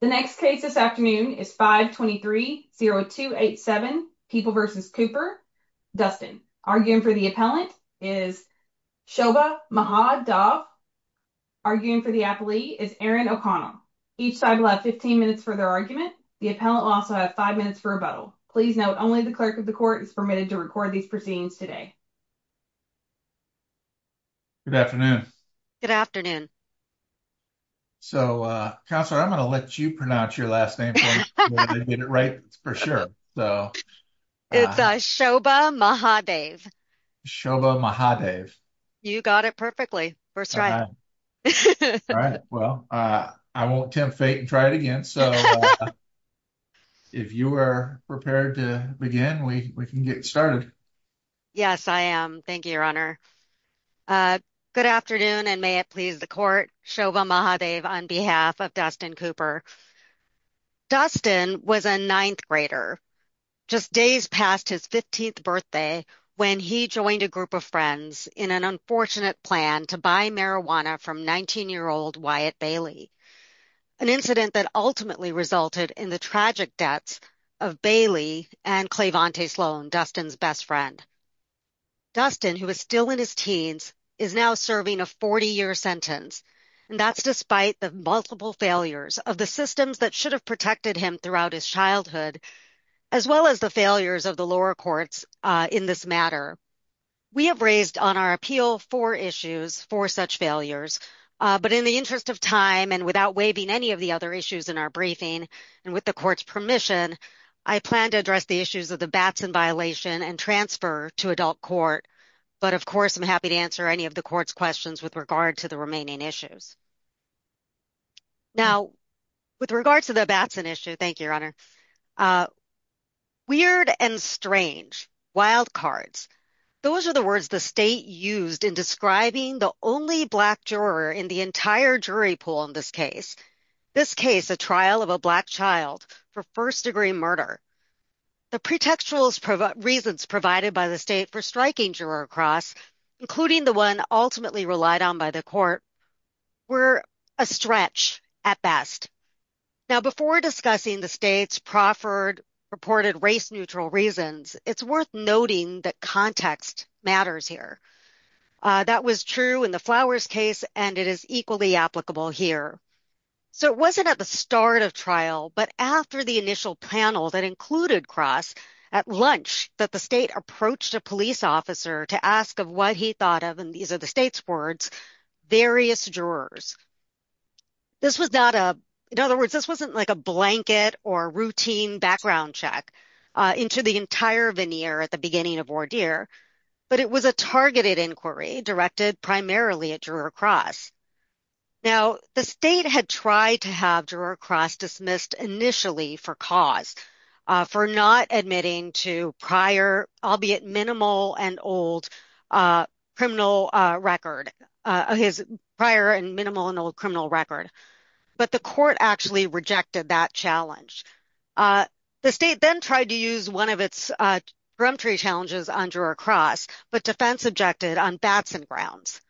The next case this afternoon is 523-0287 People v. Cooper. Dustin, arguing for the appellant, is Shoba Maha Dov. Arguing for the appellee is Aaron O'Connell. Each side will have 15 minutes for their argument. The appellant will also have five minutes for rebuttal. Please note, only the clerk of the court is permitted to record these proceedings today. Shoba Maha Dov Thank you, Your Honor. Good afternoon, and may it please the court, Shoba Maha Dov on behalf of Dustin Cooper. Dustin was a ninth grader just days past his 15th birthday when he joined a group of friends in an unfortunate plan to buy marijuana from 19-year-old Wyatt Bailey, an incident that ultimately resulted in the tragic deaths of Bailey and Claivante Sloan, Dustin's best friend. Dustin, who is still in his teens, is now serving a 40-year sentence. That's despite the multiple failures of the systems that should have protected him throughout his childhood, as well as the failures of the lower courts in this matter. We have raised on our appeal four issues, four such failures, but in the interest of time and without waiving any of the other issues in our briefing, and with the court's permission, I plan to address the issues of the Batson violation and transfer to adult court, but of course, I'm happy to answer any of the court's questions with regard to the remaining issues. Now, with regard to the Batson issue, thank you, Your Honor, weird and strange, wild cards, those are the words the state used in describing the only Black juror in the entire jury pool in this case, this case a trial of a child for first-degree murder. The pretextual reasons provided by the state for striking juror across, including the one ultimately relied on by the court, were a stretch at best. Now, before discussing the state's proffered reported race-neutral reasons, it's worth noting that context matters here. That was true in the Flowers case, and it is equally applicable here. So it wasn't at the start of trial, but after the initial panel that included Cross, at lunch that the state approached a police officer to ask of what he thought of, and these are the state's words, various jurors. This was not a, in other words, this wasn't like a blanket or routine background check into the entire veneer at the beginning of ordeer, but it was a targeted inquiry directed primarily at juror Cross. Now, the state had tried to have juror Cross dismissed initially for cause, for not admitting to prior, albeit minimal and old, criminal record, his prior and minimal and old criminal record, but the court actually rejected that challenge. The state then tried to use one of its peremptory challenges on juror Cross, but defense objected on Batson grounds.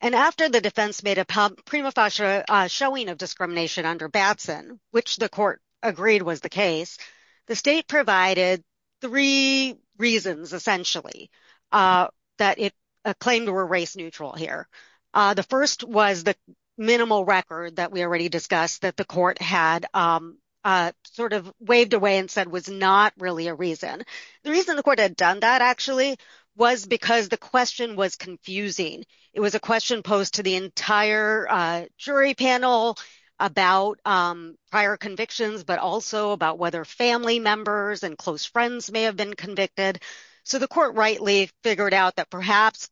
And after the defense made a prima facie showing of discrimination under Batson, which the court agreed was the case, the state provided three reasons, essentially, that it claimed were race-neutral here. The first was the minimal record that we already discussed that the court had sort of waved away and said was not really a reason. The reason the court had done that actually was because the question was confusing. It was a question posed to the entire jury panel about prior convictions, but also about whether family members and close friends may have been convicted. So the court rightly figured out that perhaps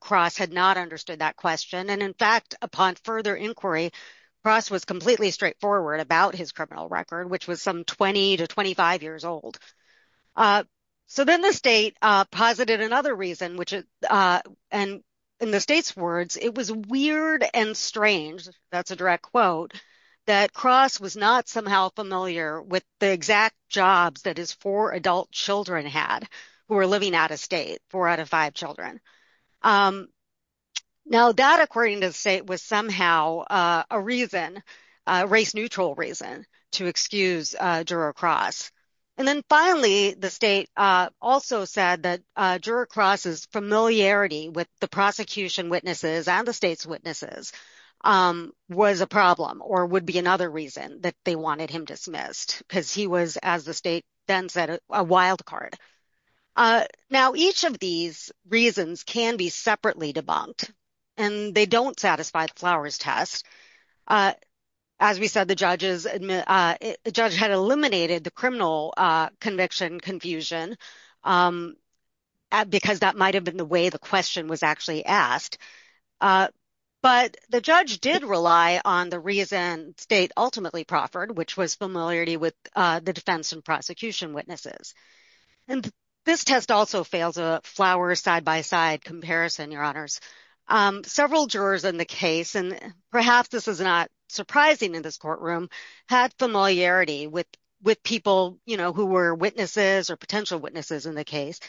Cross had not understood that question, and in fact, upon further inquiry, Cross was completely straightforward about his criminal record, which was some 20 to 25 years old. So then the state posited another reason, which is, and in the state's words, it was weird and strange, that's a direct quote, that Cross was not somehow familiar with the exact jobs that his four adult children had who were living out of state, four out of five children. Now that, according to the state, was somehow a reason, a race-neutral reason, to excuse juror Cross. And then finally, the state also said that juror Cross's familiarity with the prosecution witnesses and the state's witnesses was a problem or would be another reason that they wanted him dismissed, because he was, as the state then said, a wild card. Now each of these reasons can be separately debunked, and they don't satisfy the Flowers test. As we said, the judge had eliminated the criminal conviction confusion, because that might have been the way the question was actually asked. But the judge did rely on the reason state ultimately proffered, which was familiarity with the defense and prosecution witnesses. And this test also fails a Flowers side-by-side comparison, your honors. Several jurors in the case, and perhaps this is not surprising in this courtroom, had familiarity with people who were witnesses or potential witnesses in the case.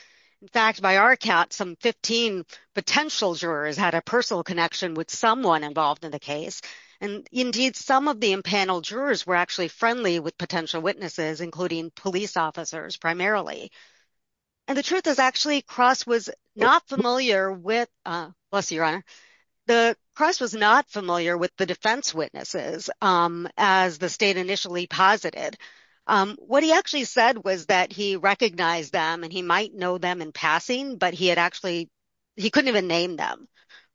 In fact, by our count, some 15 potential jurors had a personal connection with someone involved in the case. And indeed, some of the impaneled jurors were actually friendly with potential witnesses, including police officers primarily. And the truth is actually Cross was not familiar with, bless you, your honor, Cross was not familiar with the defense witnesses, as the state initially posited. What he actually said was that he recognized them and he might know them in passing, but he had actually, he couldn't even name them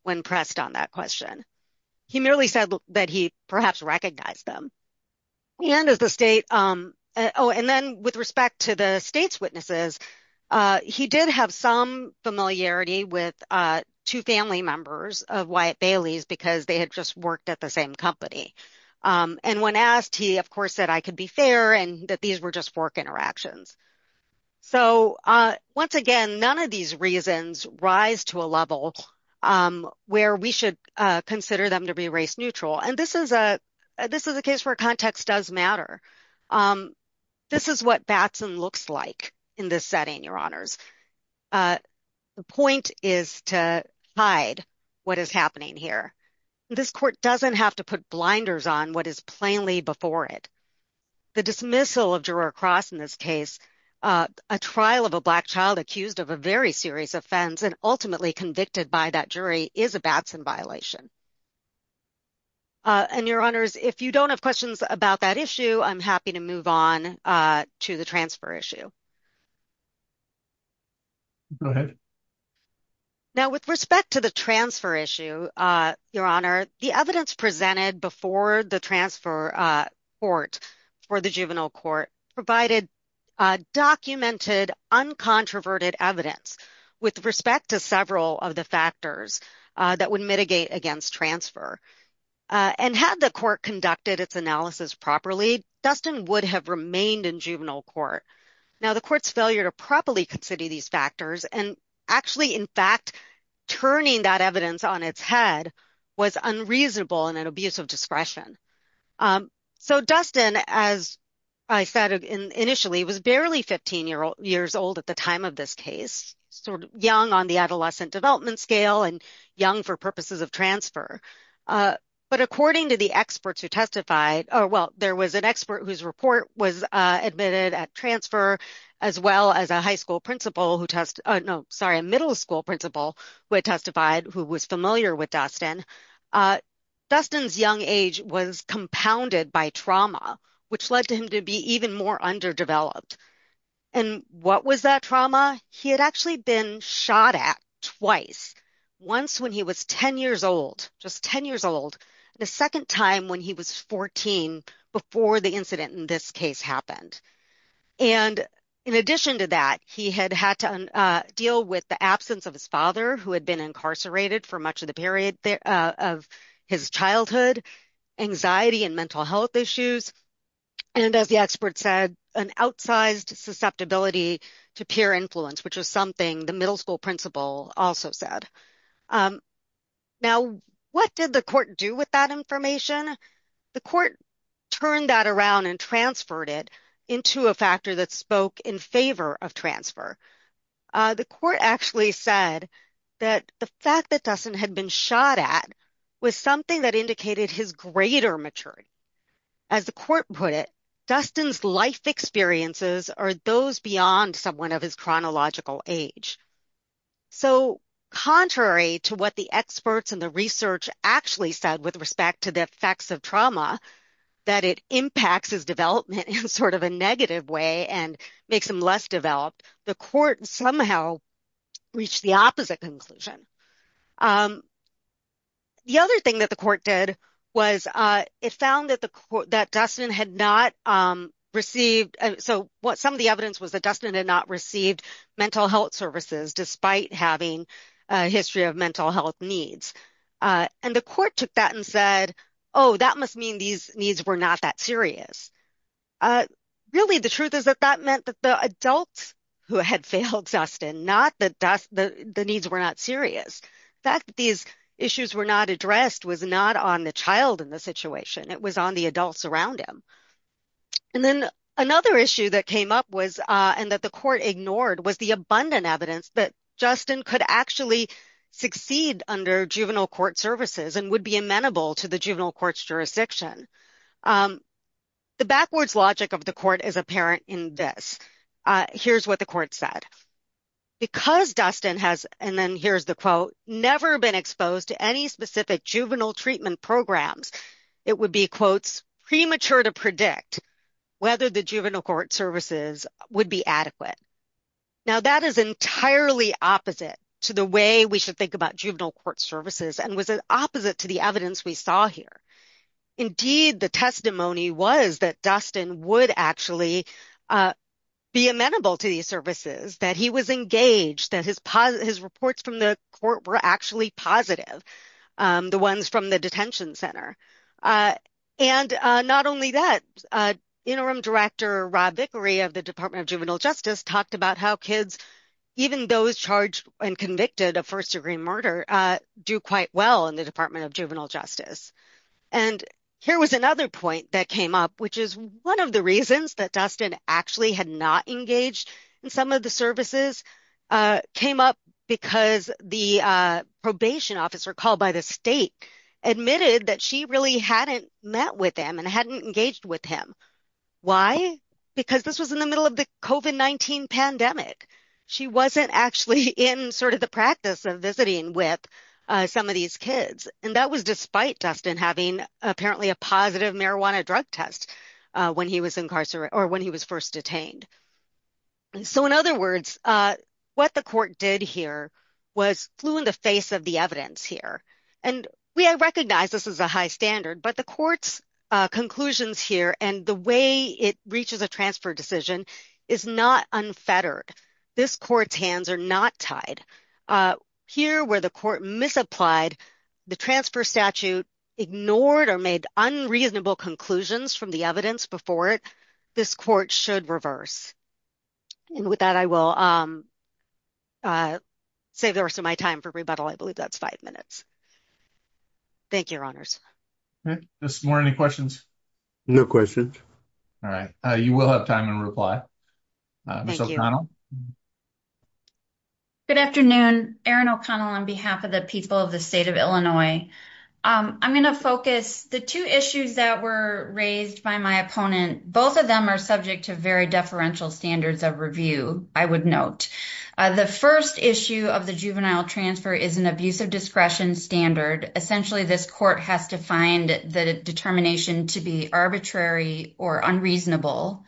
when pressed on that question. He merely said that he perhaps recognized them. And as the state, oh, and then with respect to the state's witnesses, he did have some familiarity with two family members of Wyatt Bailey's because they had just worked at the same company. And when asked, he, of course, said, I could be fair and that these were just fork interactions. So once again, none of these reasons rise to a level where we should consider them to be race neutral. And this is a, this is a case where context does matter. This is what Batson looks like in this setting, your honors. The point is to hide what is happening here. This court doesn't have to put blinders on what is plainly before it. The dismissal of juror Cross in this case, a trial of a black child accused of a very serious offense and ultimately convicted by that jury is a Batson violation. And your honors, if you don't have questions about that issue, I'm happy to move on to the transfer issue. Go ahead. Now with respect to the transfer issue, your honor, the evidence presented before the transfer court for the juvenile court provided documented, uncontroverted evidence with respect to several of the factors that would mitigate against transfer. And had the court conducted its analysis properly, Dustin would have remained in juvenile court. Now the court's failure to properly consider these factors and actually, in fact, turning that evidence on its head was unreasonable and an abuse of discretion. So Dustin, as I said initially, was barely 15 years old at the time of this case, sort of young on the adolescent development scale and young for purposes of transfer. But according to the experts who testified, well, there was an expert whose report was admitted at transfer as well as a high school principal who test, no, a middle school principal who had testified who was familiar with Dustin. Dustin's young age was compounded by trauma, which led to him to be even more underdeveloped. And what was that trauma? He had actually been shot at twice, once when he was 10 years old, just 10 years old, the second time when he was 14 before the incident in this case happened. And in addition to that, he had had to deal with the absence of his father who had been incarcerated for much of the period of his childhood, anxiety and mental health issues. And as the expert said, an outsized susceptibility to peer influence, which is something the middle school principal also said. Now, what did the court do with that information? The court turned that around and transferred it into a factor that spoke in favor of transfer. The court actually said that the fact that Dustin had been shot at was something that indicated his greater maturity. As the court put it, Dustin's life experiences are those beyond someone of his chronological age. So contrary to what the experts and the research actually said with respect to the effects of trauma, that it impacts his development in sort of a negative way and makes him less developed, the court somehow reached the opposite conclusion. The other thing that the court did was it found that Dustin had not received, so what some of the evidence was that Dustin had not received mental health services despite having a history of mental health needs. And the court took that and said, oh, that must mean these needs were not that serious. Really, the truth is that that meant that the adults who had failed Dustin, not that the needs were not serious. The fact that these issues were not addressed was not on the child in the situation, it was on the adults around him. And then another issue that came up was, and that the court ignored, was the abundant to the juvenile court's jurisdiction. The backwards logic of the court is apparent in this. Here's what the court said. Because Dustin has, and then here's the quote, never been exposed to any specific juvenile treatment programs, it would be, quotes, premature to predict whether the juvenile court services would be adequate. Now, that is entirely opposite to the way we should about juvenile court services and was opposite to the evidence we saw here. Indeed, the testimony was that Dustin would actually be amenable to these services, that he was engaged, that his reports from the court were actually positive, the ones from the detention center. And not only that, Interim Director Rob Vickery of the Department of Juvenile Justice talked about how kids, even those charged and convicted of first-degree murder, do quite well in the Department of Juvenile Justice. And here was another point that came up, which is one of the reasons that Dustin actually had not engaged in some of the services, came up because the probation officer called by the state admitted that she really hadn't met with him and hadn't engaged with him. Why? Because this was in the middle of the COVID-19 pandemic. She wasn't actually in sort of the practice of visiting with some of these kids. And that was despite Dustin having apparently a positive marijuana drug test when he was incarcerated or when he was first detained. So in other words, what the court did here was flew in the face of the evidence here. And we recognize this is a high standard, but the court's conclusions here and the way it reaches a transfer decision is not unfettered. This court's hands are not tied. Here where the court misapplied, the transfer statute ignored or made unreasonable conclusions from the evidence before it, this court should reverse. And with that, I will save the rest of my time for rebuttal. I believe that's five minutes. Thank you, your honors. Okay. Ms. Moore, any questions? No questions. All right. You will have time in reply. Ms. O'Connell? Good afternoon. Erin O'Connell on behalf of the people of the state of Illinois. I'm going to focus the two issues that were raised by my opponent. Both of them are subject to very deferential standards of review, I would note. The first issue of the juvenile transfer is an abuse of discretion standard. Essentially, this court has to find the determination to be arbitrary or unreasonable.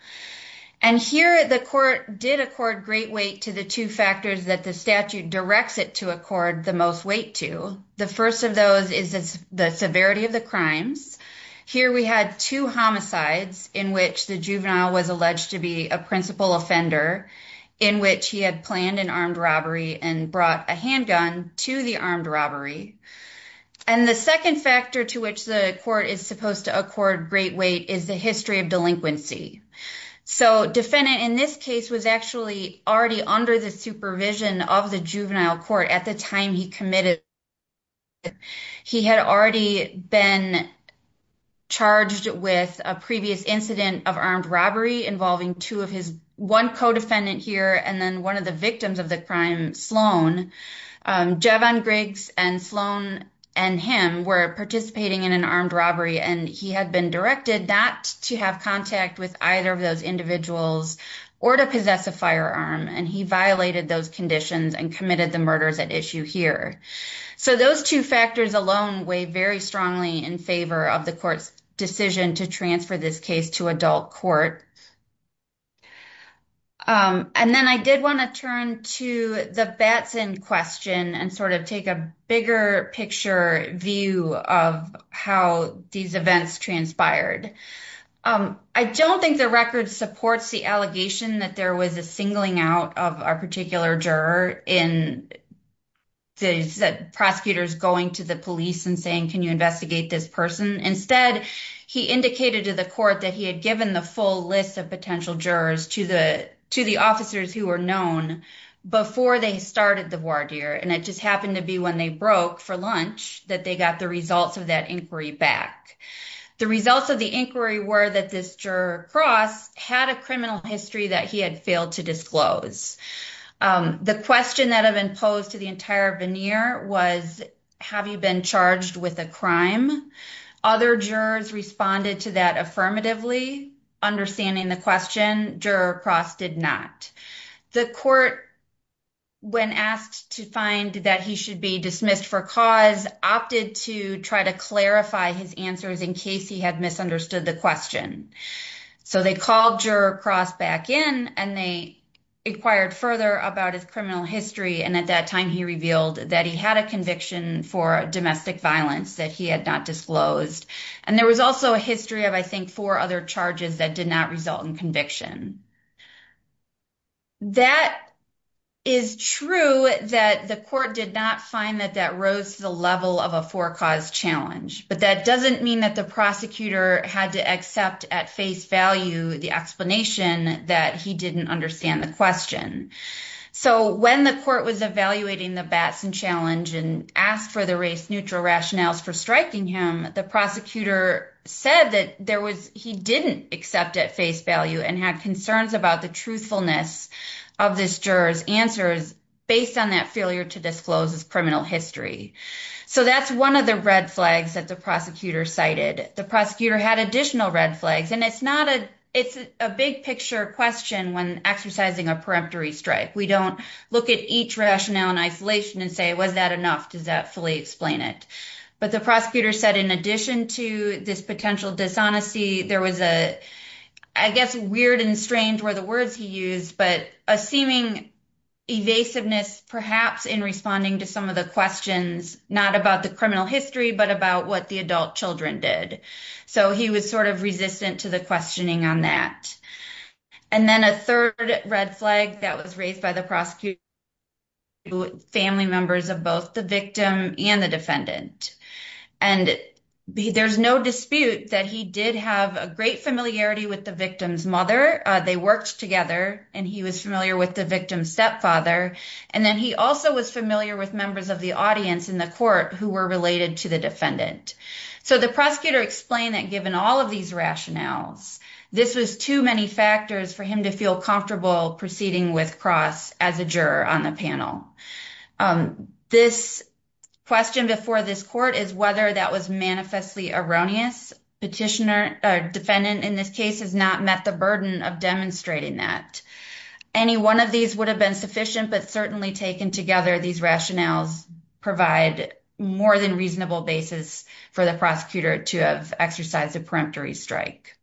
And here the court did accord great weight to the two factors that the statute directs it to accord the most weight to. The first of those is the severity of the crimes. Here we had two homicides in which the juvenile was alleged to be a principal offender, in which he had planned an armed robbery and brought a handgun to the armed robbery. And the second factor to which the court is supposed to accord great weight is the history of delinquency. So defendant in this case was actually already under the supervision of the juvenile court at the time he committed. He had already been charged with a previous incident of armed robbery involving two of his one co-defendant here and then one of the victims of the crime, Sloan. Jevon Griggs and Sloan and him were participating in an armed robbery and he had been directed not to have contact with either of those individuals or to possess a firearm. And he violated those conditions and committed the murders at issue here. So those two factors alone weigh very strongly in favor of the court's decision to transfer this to adult court. And then I did want to turn to the Batson question and sort of take a bigger picture view of how these events transpired. I don't think the record supports the allegation that there was a singling out of a particular juror in the prosecutors going to the police and saying, can you investigate this person? Instead, he indicated to the court that he had given the full list of potential jurors to the officers who were known before they started the voir dire. And it just happened to be when they broke for lunch, that they got the results of that inquiry back. The results of the inquiry were that this juror Cross had a criminal history that he had failed to disclose. The question that have been posed to the entire veneer was, have you been charged with a crime? Other jurors responded to that affirmatively, understanding the question, juror Cross did not. The court, when asked to find that he should be dismissed for cause, opted to try to clarify his answers in case he had misunderstood the question. So they called juror Cross back in and they inquired further about his criminal history. And at that time he revealed that he had a conviction for domestic violence that he had not disclosed. And there was also a history of, I think, four other charges that did not result in conviction. That is true that the court did not find that that rose to the level of a four cause challenge, but that doesn't mean that the prosecutor had to accept at face value, the explanation that he didn't understand the question. So when the court was evaluating the Batson challenge and asked for the race neutral rationales for striking him, the prosecutor said that there was, he didn't accept at face value and had concerns about the truthfulness of this juror's answers based on that failure to disclose his criminal history. So that's one of the red flags that the prosecutor cited. The prosecutor had additional red flags, and it's not a, it's a big picture question when exercising a peremptory strike. We don't look at each rationale in isolation and say, was that enough? Does that fully explain it? But the prosecutor said, in addition to this potential dishonesty, there was a, I guess, weird and strange were the words he used, but a seeming evasiveness perhaps in responding to some of the questions, not about the criminal history, but about what the adult children did. So he was sort of resistant to the questioning on that. And then a third red flag that was raised by the prosecutor, family members of both the victim and the defendant. And there's no dispute that he did have a great familiarity with the victim's mother. They worked together and he was familiar with the victim's stepfather. And then he also was familiar with members of the audience in the court who were related to the defendant. So the prosecutor explained that given all of these rationales, this was too many factors for him to feel comfortable proceeding with Cross as a juror on the panel. This question before this court is whether that was manifestly erroneous. Petitioner, defendant in this case has not met the burden of demonstrating that. Any one of these would have been sufficient, but certainly taken together, these rationales provide more than reasonable basis for the prosecutor to have exercised a peremptory strike.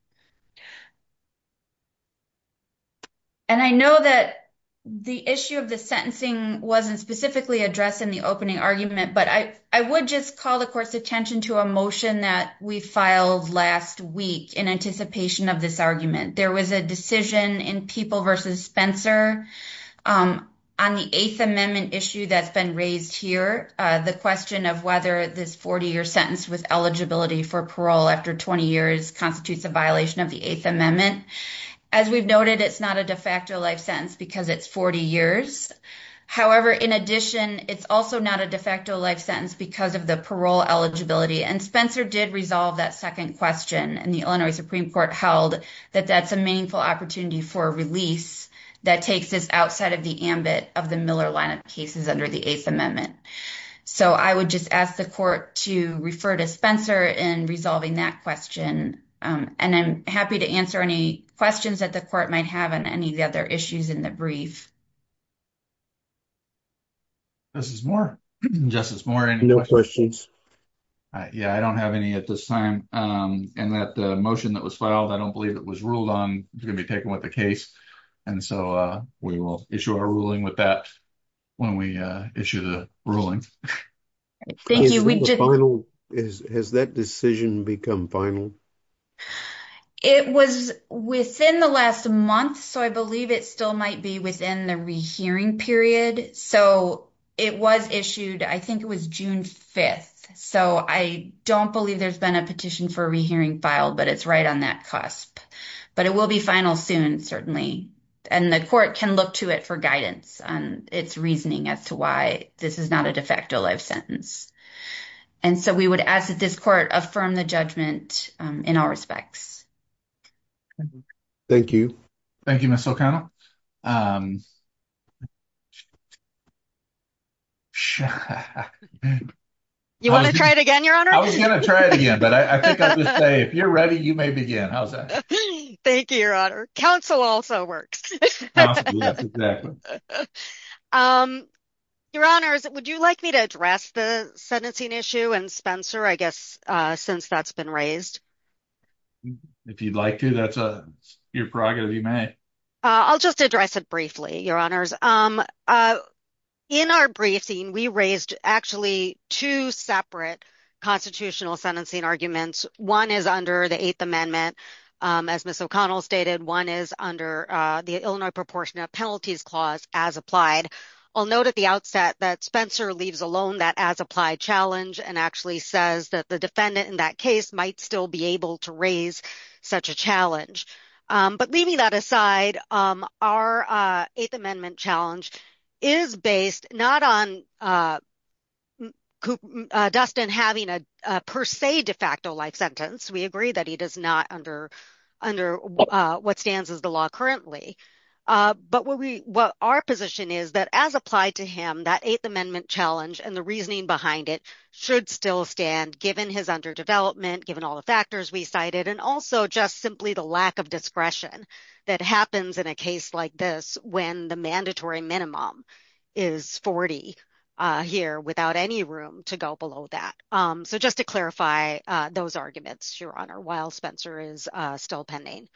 And I know that the issue of the sentencing wasn't specifically addressed in the opening argument, but I would just call the court's attention to a motion that we filed last week in anticipation of this argument. There was a decision in People v. Spencer on the Eighth Amendment issue that's been raised here. The question of whether this 40-year sentence with eligibility for parole after 20 years constitutes a violation of the Eighth Amendment. As we've noted, it's not a de facto life sentence because it's 40 years. However, in addition, it's also not a de facto life sentence because of the parole eligibility. And Spencer did resolve that second question and the Illinois Supreme Court held that that's a meaningful opportunity for a release that takes this outside of the ambit of the Miller lineup cases under the Eighth Amendment. So, I would just ask the court to refer to Spencer in resolving that question. And I'm happy to answer any questions that the court might have on any of the other issues in the brief. Justice Moore. Justice Moore, any questions? No questions. Yeah, I don't have any at this time. And that motion that was filed, I don't believe it was ruled on. It's going to be taken with the case. And so, we will issue our ruling with that when we issue the ruling. Thank you. Has that decision become final? It was within the last month. So, I believe it still might be within the rehearing period. So, it was issued, I think it was June 5th. So, I don't believe there's been a petition for rehearing filed, but it's right on that cusp. But it will be final soon, certainly. And the court can look to it for guidance on its reasoning as to why this is not a de facto life sentence. And so, we would ask that this court affirm the judgment in all respects. Thank you. Thank you, Ms. O'Connell. You want to try it again, Your Honor? I was going to try it again, but I think I would say if you're ready, you may begin. How's that? Thank you, Your Honor. Counsel also works. Your Honors, would you like me to address the sentencing issue and Spencer, I guess, since that's been raised? If you'd like to, that's your prerogative, you may. I'll just address it briefly, Your Honors. In our briefing, we raised actually two separate constitutional sentencing arguments. One is under the Eighth Amendment, as Ms. O'Connell stated. One is under the Illinois Proportionate Penalties Clause as applied. I'll note at the outset that Spencer leaves alone that as applied challenge and actually says that the defendant in that case might still be able to raise such a challenge. But leaving that aside, our Eighth Amendment challenge is based not on Dustin having a per se de facto life sentence. We agree that he does not under what stands as the law currently. But what our position is that as applied to him, that Eighth Amendment challenge and the reasoning behind it should still stand, given his underdevelopment, given all the factors we cited, and also just simply the lack of discretion that happens in a case like this when the mandatory minimum is 40 here without any room to go below that. So just to clarify those arguments, Your Honor, while Spencer is still pending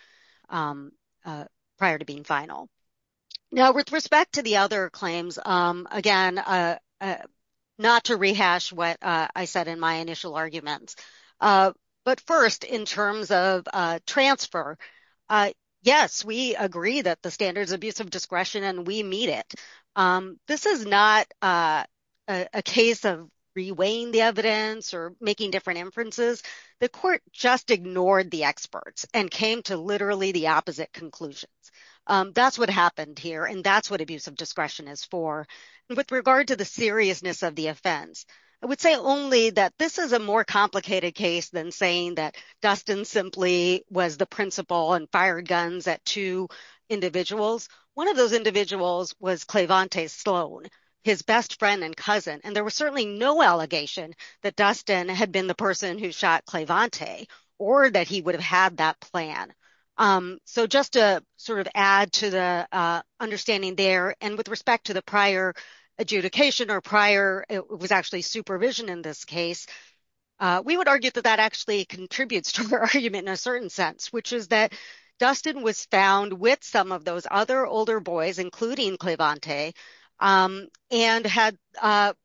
prior to being final. Now, with respect to the other claims, again, not to rehash what I said in my initial arguments. But first, in terms of transfer, yes, we agree that the standard is abuse of discretion and we meet it. This is not a case of reweighing the evidence or making different inferences. The court just ignored the experts and came to literally the opposite conclusions. That's what happened here, and that's what abuse of discretion is for. With regard to the seriousness of the offense, I would say only that this is a more complicated case than saying that Dustin simply was the principal and fired guns at two individuals. One of those individuals was Claivante Sloan, his best friend and cousin, and there was certainly no allegation that Dustin had been the person who shot Claivante or that he would have had that plan. So just to sort of add to the understanding there, and with respect to the prior adjudication or prior, it was actually supervision in this case, we would argue that that actually contributes to the argument in a certain sense, which is that Dustin was found with some of those other older boys, including Claivante, and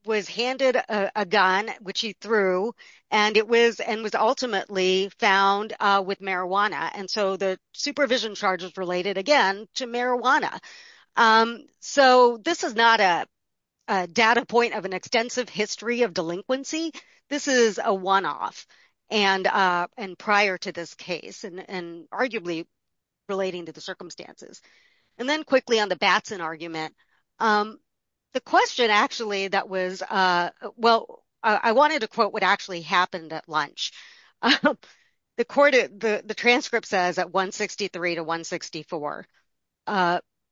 was handed a gun, which he threw, and was ultimately found with marijuana, and so the supervision charges related, again, to marijuana. So this is not a data point of an extensive history of delinquency. This is a one-off, and prior to this case, and arguably relating to the circumstances. And then quickly on the Batson argument, the question actually that was, well, I wanted to quote what actually happened at lunch. The transcript says at 163 to 164,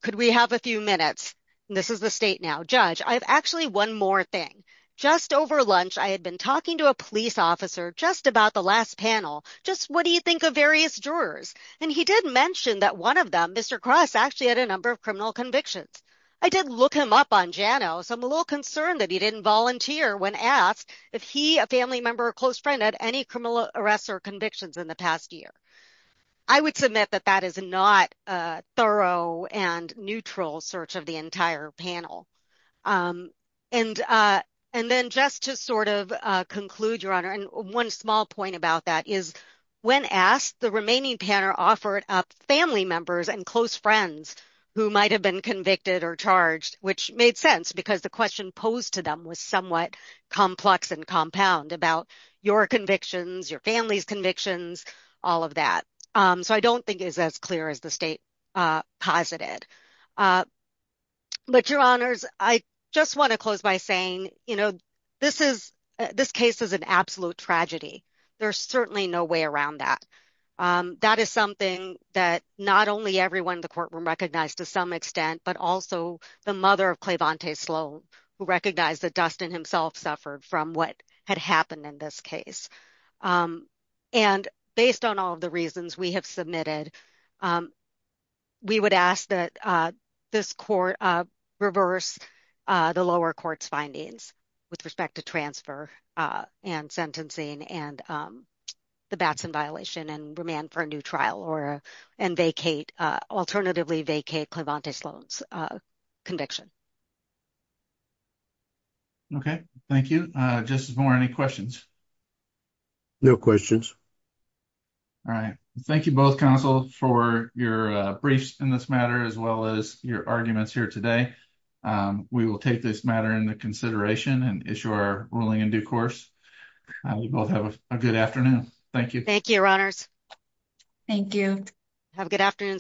could we have a few minutes? This is the state now. Judge, I have actually one more thing. Just over lunch, I had been talking to a police officer just about the last panel, just what do you think of various jurors? And he did mention that one of them, Mr. Cross, actually had a number of criminal convictions. I did look him up on JANO, so I'm a little concerned that he didn't volunteer when asked if he, a family member or close friend, had any criminal arrests or convictions in the past year. I would submit that that is not a thorough and neutral search of the entire panel. And then just to sort of conclude, Your Honor, and one small point about that is, when asked, the remaining panel offered up family members and close friends who might have been convicted or charged, which made sense because the question posed to them was somewhat complex and compound about your convictions, your family's convictions, all of that. So I don't think it's as clear as the state posited. But Your Honors, I just want to close by saying, you know, this is, this case is an absolute tragedy. There's certainly no way around that. That is something that not only everyone in the courtroom recognized to some extent, but also the mother of Claivante Sloan, who recognized that Dustin himself suffered from what had happened in this case. And based on all of the reasons we have submitted, we would ask that this court reverse the lower court's findings with respect to transfer and sentencing and the Batson violation and remand for a new trial or, and vacate, alternatively vacate Claivante Sloan's conviction. Okay, thank you. Justice Moore, any questions? No questions. All right. Thank you both counsel for your briefs in this matter, as well as your arguments here today. We will take this matter into consideration and issue our ruling in due course. You both have a good afternoon. Thank you. Thank you, Your Honors. Thank you. Have a good afternoon.